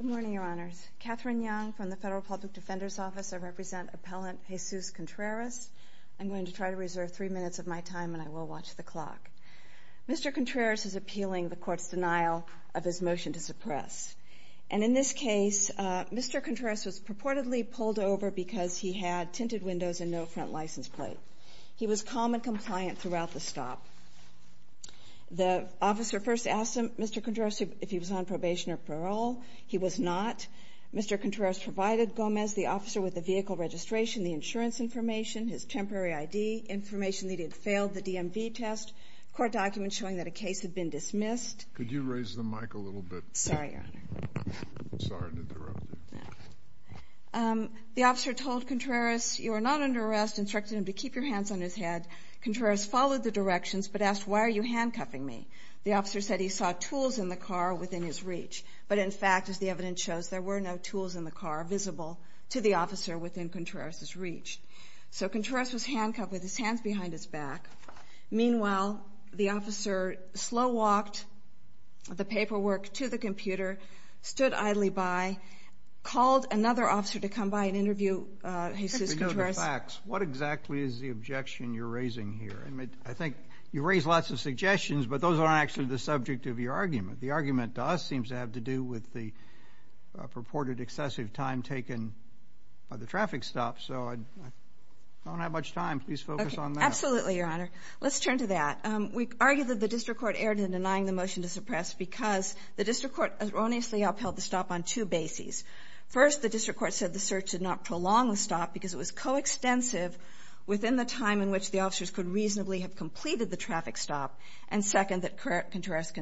Good morning, Your Honors. Catherine Young from the Federal Public Defender's Office. I represent Appellant Jesus Contreras. I'm going to try to reserve three minutes of my time, and I will watch the clock. Mr. Contreras is appealing the Court's denial of his motion to suppress. And in this case, Mr. Contreras was purportedly pulled over because he had tinted windows and no front license plate. He was calm and compliant throughout the stop. The officer first asked Mr. Contreras if he was on probation or parole. He was not. Mr. Contreras provided Gomez, the officer with the vehicle registration, the insurance information, his temporary ID information that he had failed the DMV test, court documents showing that a case had been dismissed. The officer told Contreras, you are not under arrest, instructed him to keep your hands on his head. Contreras followed the directions but asked, why are you handcuffing me? The officer said he saw tools in the car within his reach. But in fact, as the evidence shows, there were no tools in the car visible to the officer within Contreras' reach. So Contreras was handcuffed with his hands behind his back. Meanwhile, the officer slow walked the paperwork to the computer, stood idly by, called another officer to come by and interview Jesus Contreras. I don't know the facts. What exactly is the objection you're raising here? I mean, I think you raised lots of suggestions, but those aren't actually the subject of your argument. The argument to us seems to have to do with the purported excessive time taken by the traffic stop. So I don't have much time. Please focus on that. Absolutely, Your Honor. Let's turn to that. We argue that the district court erred in denying the motion to suppress because the district court erroneously upheld the stop on two bases. First, the district court said the search did not prolong the stop because it was coextensive within the time in which the officers could reasonably have completed the traffic stop. And second, that Contreras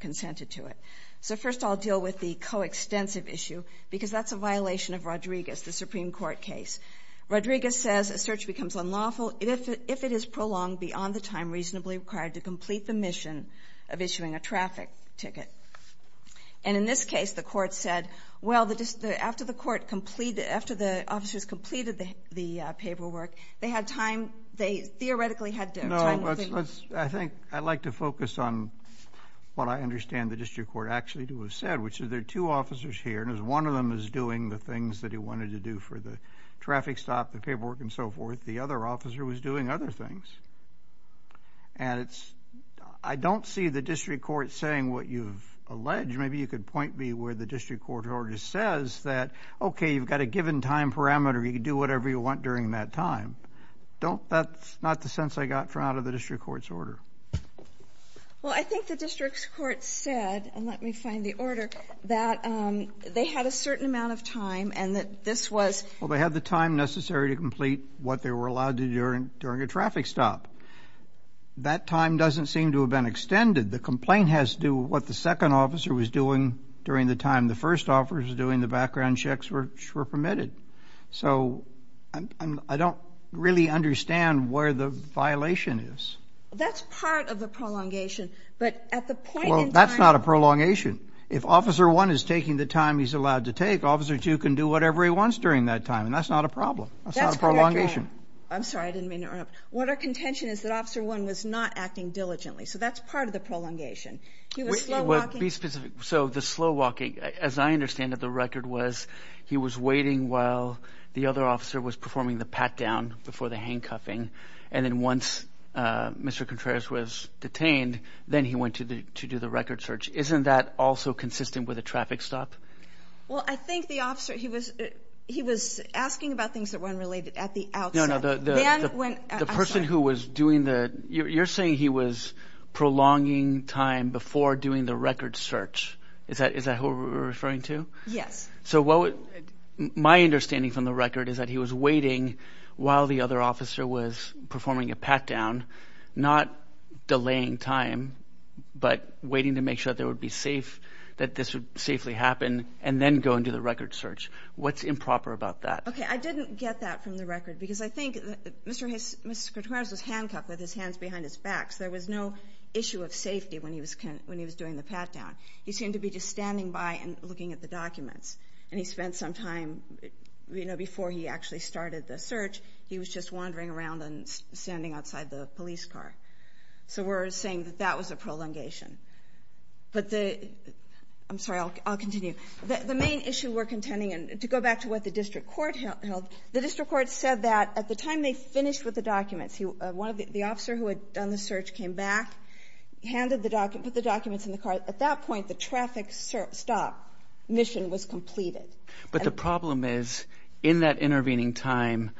consented to it. So first, I'll deal with the coextensive issue because that's a violation of Rodriguez, the Supreme Court case. Rodriguez says a search becomes unlawful if it is prolonged beyond the time reasonably required to complete the mission of issuing a traffic ticket. And in this case, the court said, well, after the officers completed the paperwork, they theoretically had time. Well, I think I'd like to focus on what I understand the district court actually to have said, which is there are two officers here, and one of them is doing the things that he wanted to do for the traffic stop, the paperwork, and so forth. The other officer was doing other things. And I don't see the district court saying what you've alleged. Maybe you could point me where the district court already says that, okay, you've got a given time parameter. You can do whatever you want during that time. That's not the sense I got from out of the district court's order. Well, I think the district court said, and let me find the order, that they had a certain amount of time and that this was... Well, they had the time necessary to complete what they were allowed to do during a traffic stop. That time doesn't seem to have been extended. The complaint has to do with what the second officer was doing during the time the first officer was doing the background checks which were permitted. So I don't really understand where the violation is. That's part of the prolongation, but at the point in time... Well, that's not a prolongation. If Officer 1 is taking the time he's allowed to take, Officer 2 can do whatever he wants during that time, and that's not a problem. That's correct, Your Honor. That's not a prolongation. I'm sorry, I didn't mean to interrupt. What our contention is that Officer 1 was not acting diligently, so that's part of the prolongation. He was slow walking... while the other officer was performing the pat-down before the handcuffing, and then once Mr. Contreras was detained, then he went to do the record search. Isn't that also consistent with a traffic stop? Well, I think the officer, he was asking about things that weren't related at the outset. No, no, the person who was doing the... You're saying he was prolonging time before doing the record search. Is that who we're referring to? Yes. My understanding from the record is that he was waiting while the other officer was performing a pat-down, not delaying time, but waiting to make sure that this would safely happen, and then go and do the record search. What's improper about that? Okay, I didn't get that from the record, because I think Mr. Contreras was handcuffed with his hands behind his back, so there was no issue of safety when he was doing the pat-down. He seemed to be just standing by and looking at the documents, and he spent some time, you know, before he actually started the search, he was just wandering around and standing outside the police car. So we're saying that that was a prolongation. But the... I'm sorry, I'll continue. The main issue we're contending, and to go back to what the district court held, the district court said that at the time they finished with the documents, the officer who had done the search came back, handed the documents, put the documents in the car. At that point, the traffic stop mission was completed. But the problem is, in that intervening time,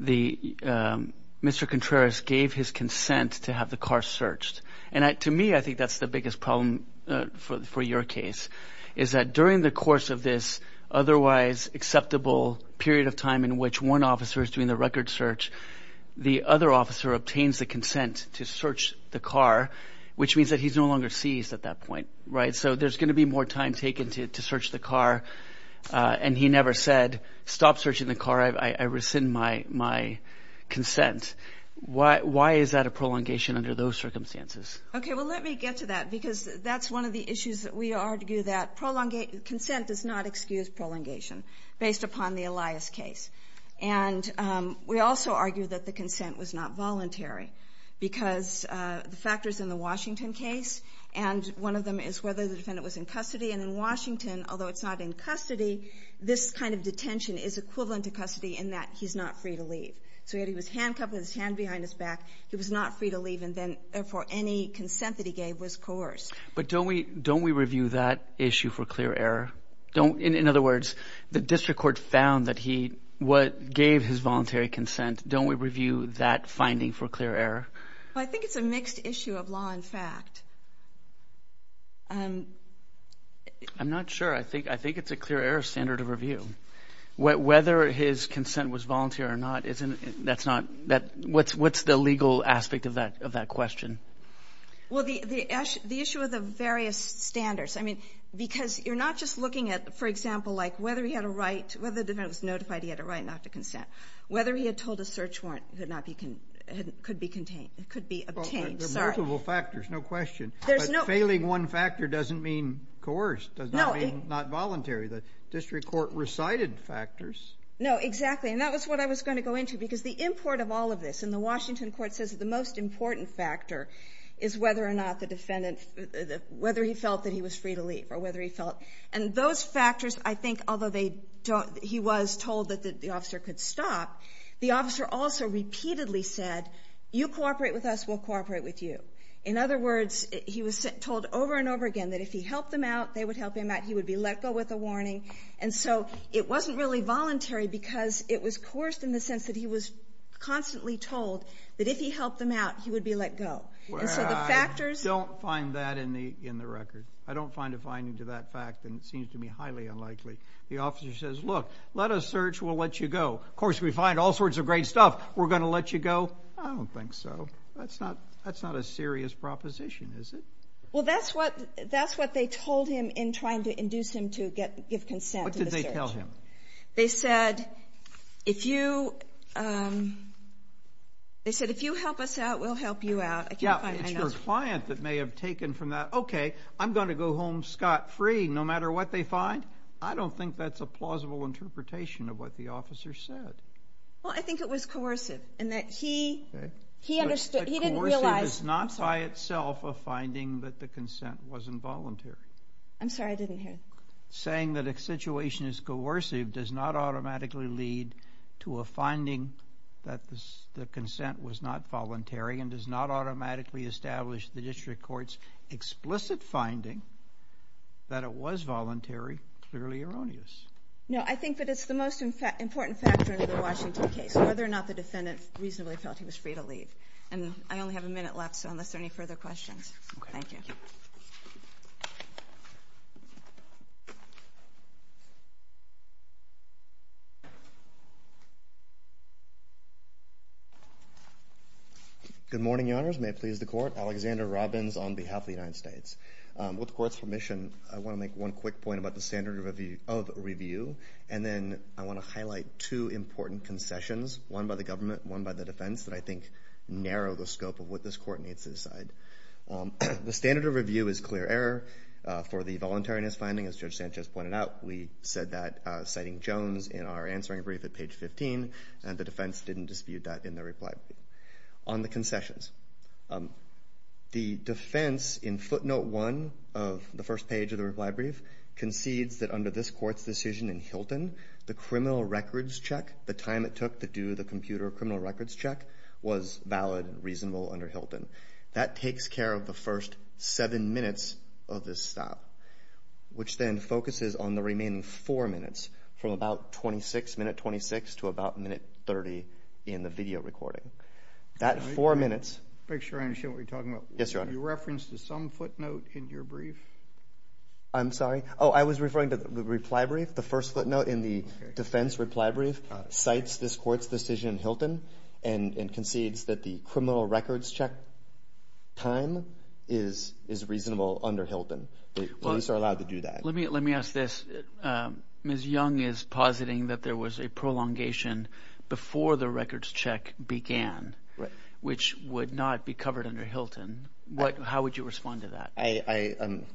Mr. Contreras gave his consent to have the car searched. And to me, I think that's the biggest problem for your case, is that during the course of this otherwise acceptable period of time in which one officer is doing the record search, the other officer obtains the consent to search the car, which means that he's no longer seized at that point, right? So there's going to be more time taken to search the car, and he never said, stop searching the car, I rescind my consent. Why is that a prolongation under those circumstances? Okay, well, let me get to that, because that's one of the issues that we argue, that consent does not excuse prolongation, based upon the Elias case. And we also argue that the consent was not voluntary, because the factors in the Washington case, and one of them is whether the defendant was in custody. And in Washington, although it's not in custody, this kind of detention is equivalent to custody in that he's not free to leave. So he was handcuffed with his hand behind his back, he was not free to leave, and therefore any consent that he gave was coerced. But don't we review that issue for clear error? In other words, the district court found that he gave his voluntary consent. Don't we review that finding for clear error? I think it's a mixed issue of law and fact. I'm not sure. I think it's a clear error standard of review. Whether his consent was voluntary or not, that's not, what's the legal aspect of that question? Well, the issue of the various standards. I mean, because you're not just looking at, for example, like whether he had a right, whether the defendant was notified he had a right not to consent. Whether he had told a search warrant could be obtained. There are multiple factors, no question. But failing one factor doesn't mean coerced, does not mean not voluntary. The district court recited factors. No, exactly. And that was what I was going to go into. Because the import of all of this, and the Washington court says that the most important factor is whether or not the defendant, whether he felt that he was free to leave or whether he felt. And those factors, I think, although he was told that the officer could stop, the officer also repeatedly said, you cooperate with us, we'll cooperate with you. In other words, he was told over and over again that if he helped them out, they would help him out, he would be let go with a warning. And so it wasn't really voluntary because it was coerced in the sense that he was constantly told that if he helped them out, he would be let go. And so the factors. Well, I don't find that in the record. I don't find a finding to that fact, and it seems to me highly unlikely. The officer says, look, let us search, we'll let you go. Of course, we find all sorts of great stuff, we're going to let you go. I don't think so. That's not a serious proposition, is it? Well, that's what they told him in trying to induce him to give consent to the search. What did they tell him? They said, if you help us out, we'll help you out. Yeah, it's your client that may have taken from that, okay, I'm going to go home scot-free no matter what they find. I don't think that's a plausible interpretation of what the officer said. Well, I think it was coercive in that he didn't realize. It is not by itself a finding that the consent was involuntary. I'm sorry, I didn't hear. Saying that a situation is coercive does not automatically lead to a finding that the consent was not voluntary and does not automatically establish the district court's explicit finding that it was voluntary, clearly erroneous. No, I think that it's the most important factor in the Washington case, whether or not the defendant reasonably felt he was free to leave. And I only have a minute left, so unless there are any further questions, thank you. Good morning, Your Honors. May it please the Court. Alexander Robbins on behalf of the United States. With the Court's permission, I want to make one quick point about the standard of review, and then I want to highlight two important concessions, one by the government, one by the defense that I think narrow the scope of what this Court needs to decide. The standard of review is clear error for the voluntariness finding, as Judge Sanchez pointed out. We said that, citing Jones, in our answering brief at page 15, and the defense didn't dispute that in the reply brief. On the concessions, the defense in footnote one of the first page of the reply brief concedes that under this Court's decision in Hilton, the criminal records check, the time it took to do the computer criminal records check, was valid and reasonable under Hilton. That takes care of the first seven minutes of this stop, which then focuses on the remaining four minutes, from about 26, minute 26, to about minute 30 in the video recording. That four minutes – Make sure I understand what you're talking about. Yes, Your Honor. You reference to some footnote in your brief? I'm sorry? Oh, I was referring to the reply brief. The first footnote in the defense reply brief cites this Court's decision in Hilton and concedes that the criminal records check time is reasonable under Hilton. Police are allowed to do that. Let me ask this. Ms. Young is positing that there was a prolongation before the records check began, which would not be covered under Hilton. How would you respond to that?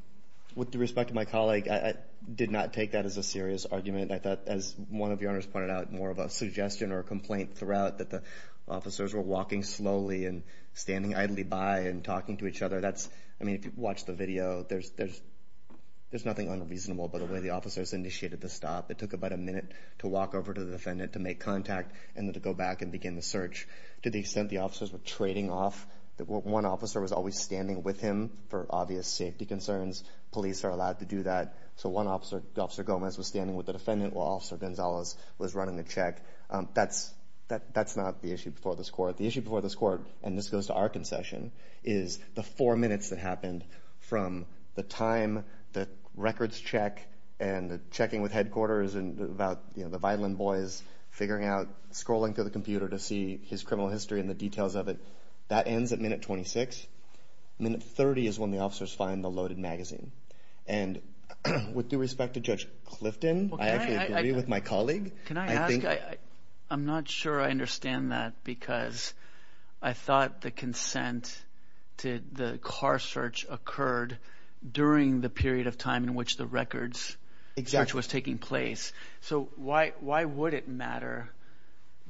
With respect to my colleague, I did not take that as a serious argument. I thought, as one of Your Honors pointed out, more of a suggestion or a complaint throughout, that the officers were walking slowly and standing idly by and talking to each other. I mean, if you watch the video, there's nothing unreasonable about the way the officers initiated the stop. It took about a minute to walk over to the defendant to make contact and then to go back and begin the search. To the extent the officers were trading off, one officer was always standing with him for obvious safety concerns. Police are allowed to do that. So one officer, Officer Gomez, was standing with the defendant while Officer Gonzalez was running the check. That's not the issue before this Court. The issue before this Court, and this goes to our concession, is the four minutes that happened from the time the records check and the checking with headquarters and about the violin boys figuring out, scrolling through the computer to see his criminal history and the details of it, that ends at minute 26. Minute 30 is when the officers find the loaded magazine. And with due respect to Judge Clifton, I actually agree with my colleague. Can I ask? I'm not sure I understand that because I thought the consent to the car search occurred during the period of time in which the records search was taking place. So why would it matter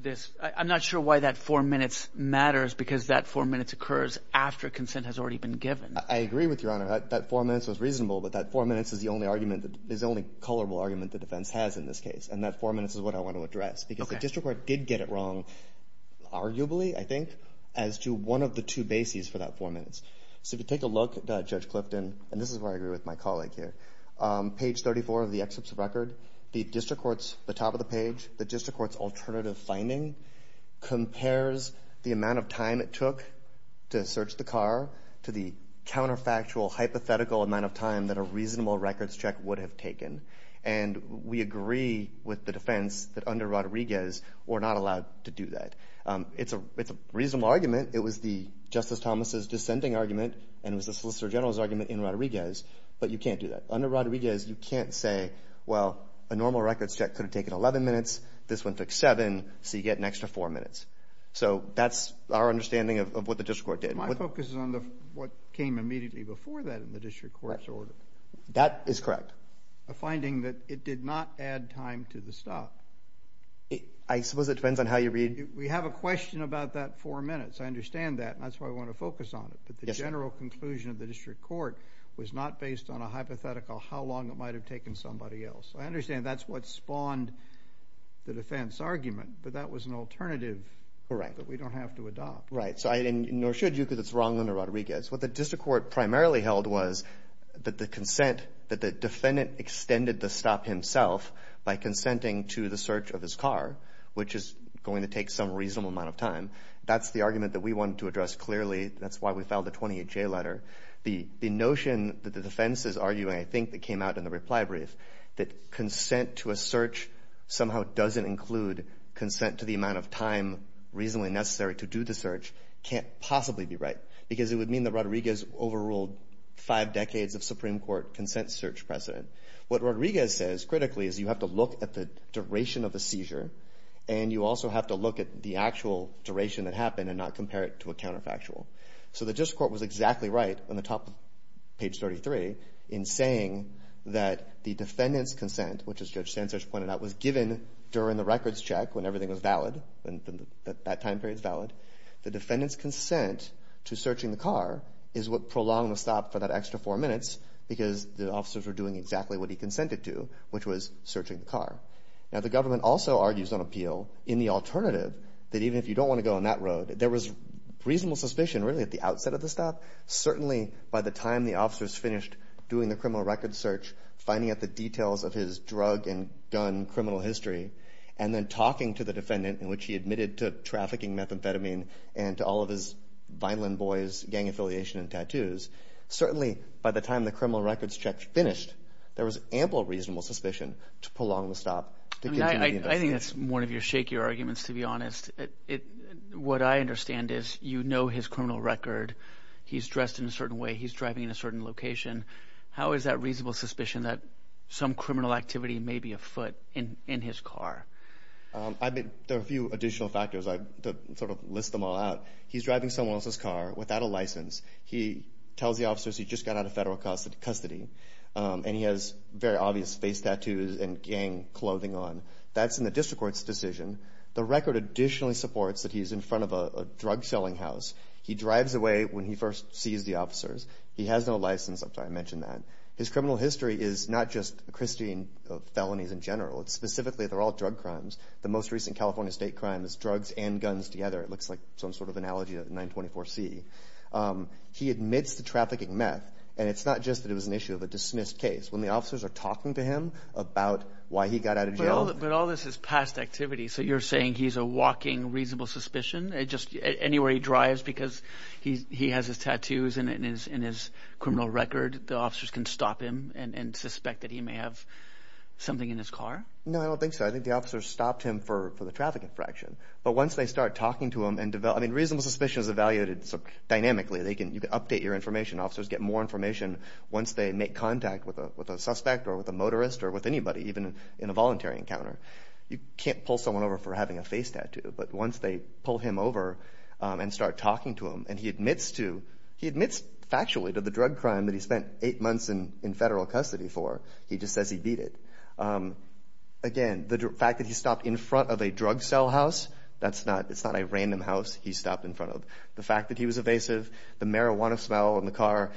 this? I'm not sure why that four minutes matters because that four minutes occurs after consent has already been given. I agree with Your Honor. That four minutes was reasonable, but that four minutes is the only argument, the only colorable argument the defense has in this case. And that four minutes is what I want to address because the District Court did get it wrong, arguably, I think, as to one of the two bases for that four minutes. So if you take a look at Judge Clifton, and this is where I agree with my colleague here, page 34 of the excerpt's record, the District Court's, the top of the page, the District Court's alternative finding compares the amount of time it took to search the car to the counterfactual hypothetical amount of time that a reasonable records check would have taken. And we agree with the defense that under Rodriguez we're not allowed to do that. It's a reasonable argument. It was the Justice Thomas' dissenting argument, and it was the Solicitor General's argument in Rodriguez. But you can't do that. Under Rodriguez, you can't say, well, a normal records check could have taken 11 minutes. This one took seven, so you get an extra four minutes. So that's our understanding of what the District Court did. My focus is on what came immediately before that in the District Court's order. That is correct. A finding that it did not add time to the stop. I suppose it depends on how you read. We have a question about that four minutes. I understand that, and that's why we want to focus on it. But the general conclusion of the District Court was not based on a hypothetical how long it might have taken somebody else. I understand that's what spawned the defense argument, but that was an alternative that we don't have to adopt. Right. Nor should you because it's wrong under Rodriguez. What the District Court primarily held was that the consent, that the defendant extended the stop himself by consenting to the search of his car, which is going to take some reasonable amount of time. That's the argument that we wanted to address clearly. That's why we filed a 28-J letter. The notion that the defense is arguing, I think, that came out in the reply brief, that consent to a search somehow doesn't include consent to the amount of time reasonably necessary to do the search, can't possibly be right because it would mean that Rodriguez overruled five decades of Supreme Court consent search precedent. What Rodriguez says critically is you have to look at the duration of the seizure, and you also have to look at the actual duration that happened and not compare it to a counterfactual. So the District Court was exactly right on the top of page 33 in saying that the defendant's consent, which, as Judge Sanchez pointed out, was given during the records check when everything was valid, when that time period is valid. The defendant's consent to searching the car is what prolonged the stop for that extra four minutes because the officers were doing exactly what he consented to, which was searching the car. Now, the government also argues on appeal in the alternative that even if you don't want to go on that road, there was reasonable suspicion really at the outset of the stop, certainly by the time the officers finished doing the criminal records search, finding out the details of his drug and gun criminal history, and then talking to the defendant in which he admitted to trafficking methamphetamine Certainly by the time the criminal records check finished, there was ample reasonable suspicion to prolong the stop to continue the investigation. I think that's one of your shakier arguments, to be honest. What I understand is you know his criminal record. He's dressed in a certain way. He's driving in a certain location. How is that reasonable suspicion that some criminal activity may be afoot in his car? There are a few additional factors. To sort of list them all out, he's driving someone else's car without a license. He tells the officers he just got out of federal custody, and he has very obvious face tattoos and gang clothing on. That's in the district court's decision. The record additionally supports that he's in front of a drug-selling house. He drives away when he first sees the officers. He has no license. I'm sorry I mentioned that. His criminal history is not just Christine felonies in general. Specifically, they're all drug crimes. The most recent California state crime is drugs and guns together. It looks like some sort of analogy to 924C. He admits to trafficking meth, and it's not just that it was an issue of a dismissed case. When the officers are talking to him about why he got out of jail. But all this is past activity, so you're saying he's a walking reasonable suspicion? Anywhere he drives, because he has his tattoos and his criminal record, the officers can stop him and suspect that he may have something in his car? No, I don't think so. I think the officers stopped him for the traffic infraction. But once they start talking to him and develop, I mean, reasonable suspicion is evaluated dynamically. You can update your information. Officers get more information once they make contact with a suspect or with a motorist or with anybody, even in a voluntary encounter. You can't pull someone over for having a face tattoo. But once they pull him over and start talking to him, and he admits to, he admits factually to the drug crime that he spent eight months in federal custody for. He just says he beat it. Again, the fact that he stopped in front of a drug cell house, that's not a random house he stopped in front of. The fact that he was evasive, the marijuana smell in the car,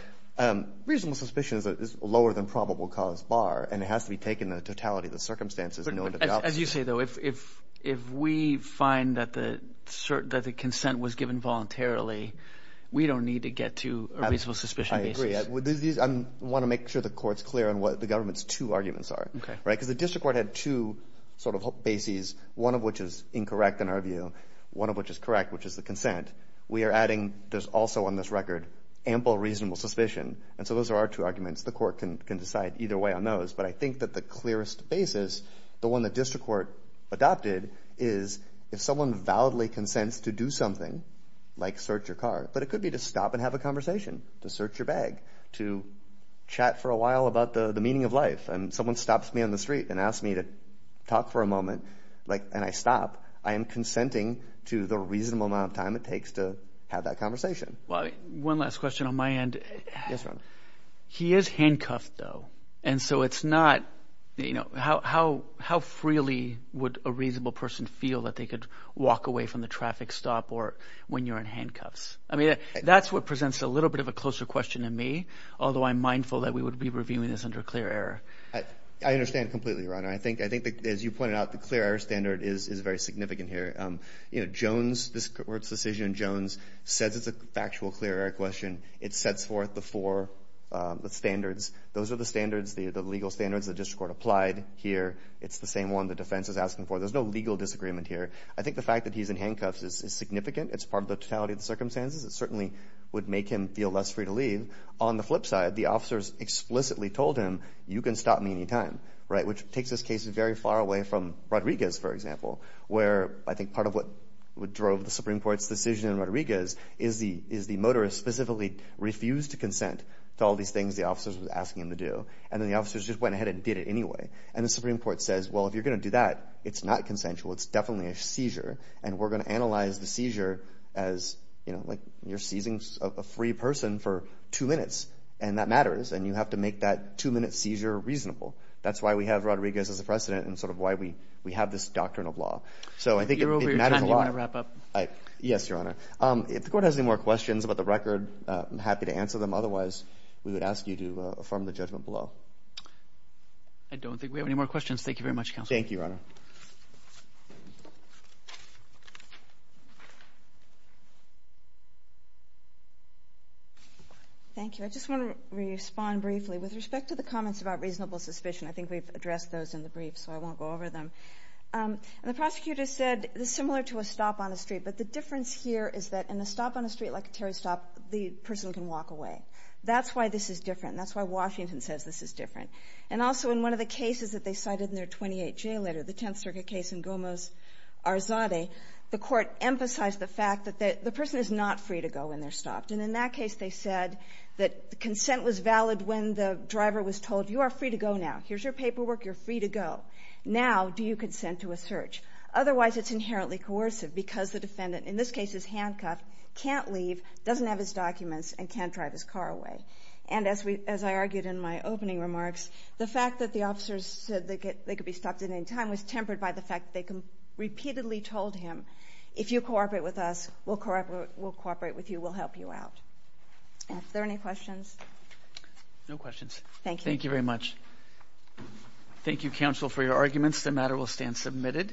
reasonable suspicion is lower than probable cause bar, and it has to be taken in the totality of the circumstances. As you say, though, if we find that the consent was given voluntarily, we don't need to get to a reasonable suspicion basis. I agree. I want to make sure the court's clear on what the government's two arguments are. Because the district court had two sort of bases, one of which is incorrect in our view, one of which is correct, which is the consent. We are adding, there's also on this record, ample reasonable suspicion. And so those are our two arguments. The court can decide either way on those. But I think that the clearest basis, the one the district court adopted, is if someone validly consents to do something, like search your car. But it could be to stop and have a conversation, to search your bag, to chat for a while about the meaning of life. If someone stops me on the street and asks me to talk for a moment and I stop, I am consenting to the reasonable amount of time it takes to have that conversation. One last question on my end. Yes, Your Honor. He is handcuffed, though. And so it's not – how freely would a reasonable person feel that they could walk away from the traffic stop or when you're in handcuffs? I mean, that's what presents a little bit of a closer question to me, although I'm mindful that we would be reviewing this under clear error. I understand completely, Your Honor. I think, as you pointed out, the clear error standard is very significant here. Jones, this court's decision, Jones, says it's a factual clear error question. It sets forth the four standards. Those are the standards, the legal standards the district court applied here. It's the same one the defense is asking for. There's no legal disagreement here. I think the fact that he's in handcuffs is significant. It's part of the totality of the circumstances. It certainly would make him feel less free to leave. On the flip side, the officers explicitly told him, you can stop me any time, right, which takes this case very far away from Rodriguez, for example, where I think part of what drove the Supreme Court's decision in Rodriguez is the motorist specifically refused to consent to all these things the officers were asking him to do, and then the officers just went ahead and did it anyway. And the Supreme Court says, well, if you're going to do that, it's not consensual. It's definitely a seizure, and we're going to analyze the seizure as, you know, like you're seizing a free person for two minutes, and that matters, and you have to make that two-minute seizure reasonable. That's why we have Rodriguez as a precedent and sort of why we have this doctrine of law. So I think it matters a lot. You're over your time. Do you want to wrap up? Yes, Your Honor. If the court has any more questions about the record, I'm happy to answer them. Otherwise, we would ask you to affirm the judgment below. I don't think we have any more questions. Thank you very much, Counsel. Thank you, Your Honor. Thank you. I just want to respond briefly. With respect to the comments about reasonable suspicion, I think we've addressed those in the brief, so I won't go over them. The prosecutor said, similar to a stop on a street, but the difference here is that in a stop on a street like a tarry stop, the person can walk away. That's why Washington says this is different. And also in one of the cases that they cited in their 28-J letter, the Tenth Circuit case in Gomez-Arzade, the Court emphasized the fact that the person is not free to go when they're stopped. And in that case, they said that the consent was valid when the driver was told, you are free to go now. Here's your paperwork. You're free to go. Now do you consent to a search. Otherwise, it's inherently coercive because the defendant, in this case, is handcuffed, can't leave, doesn't have his documents, and can't drive his car away. And as I argued in my opening remarks, the fact that the officers said they could be stopped at any time was tempered by the fact that they repeatedly told him, if you cooperate with us, we'll cooperate with you. We'll help you out. Are there any questions? No questions. Thank you very much. Thank you, counsel, for your arguments. The matter will stand submitted.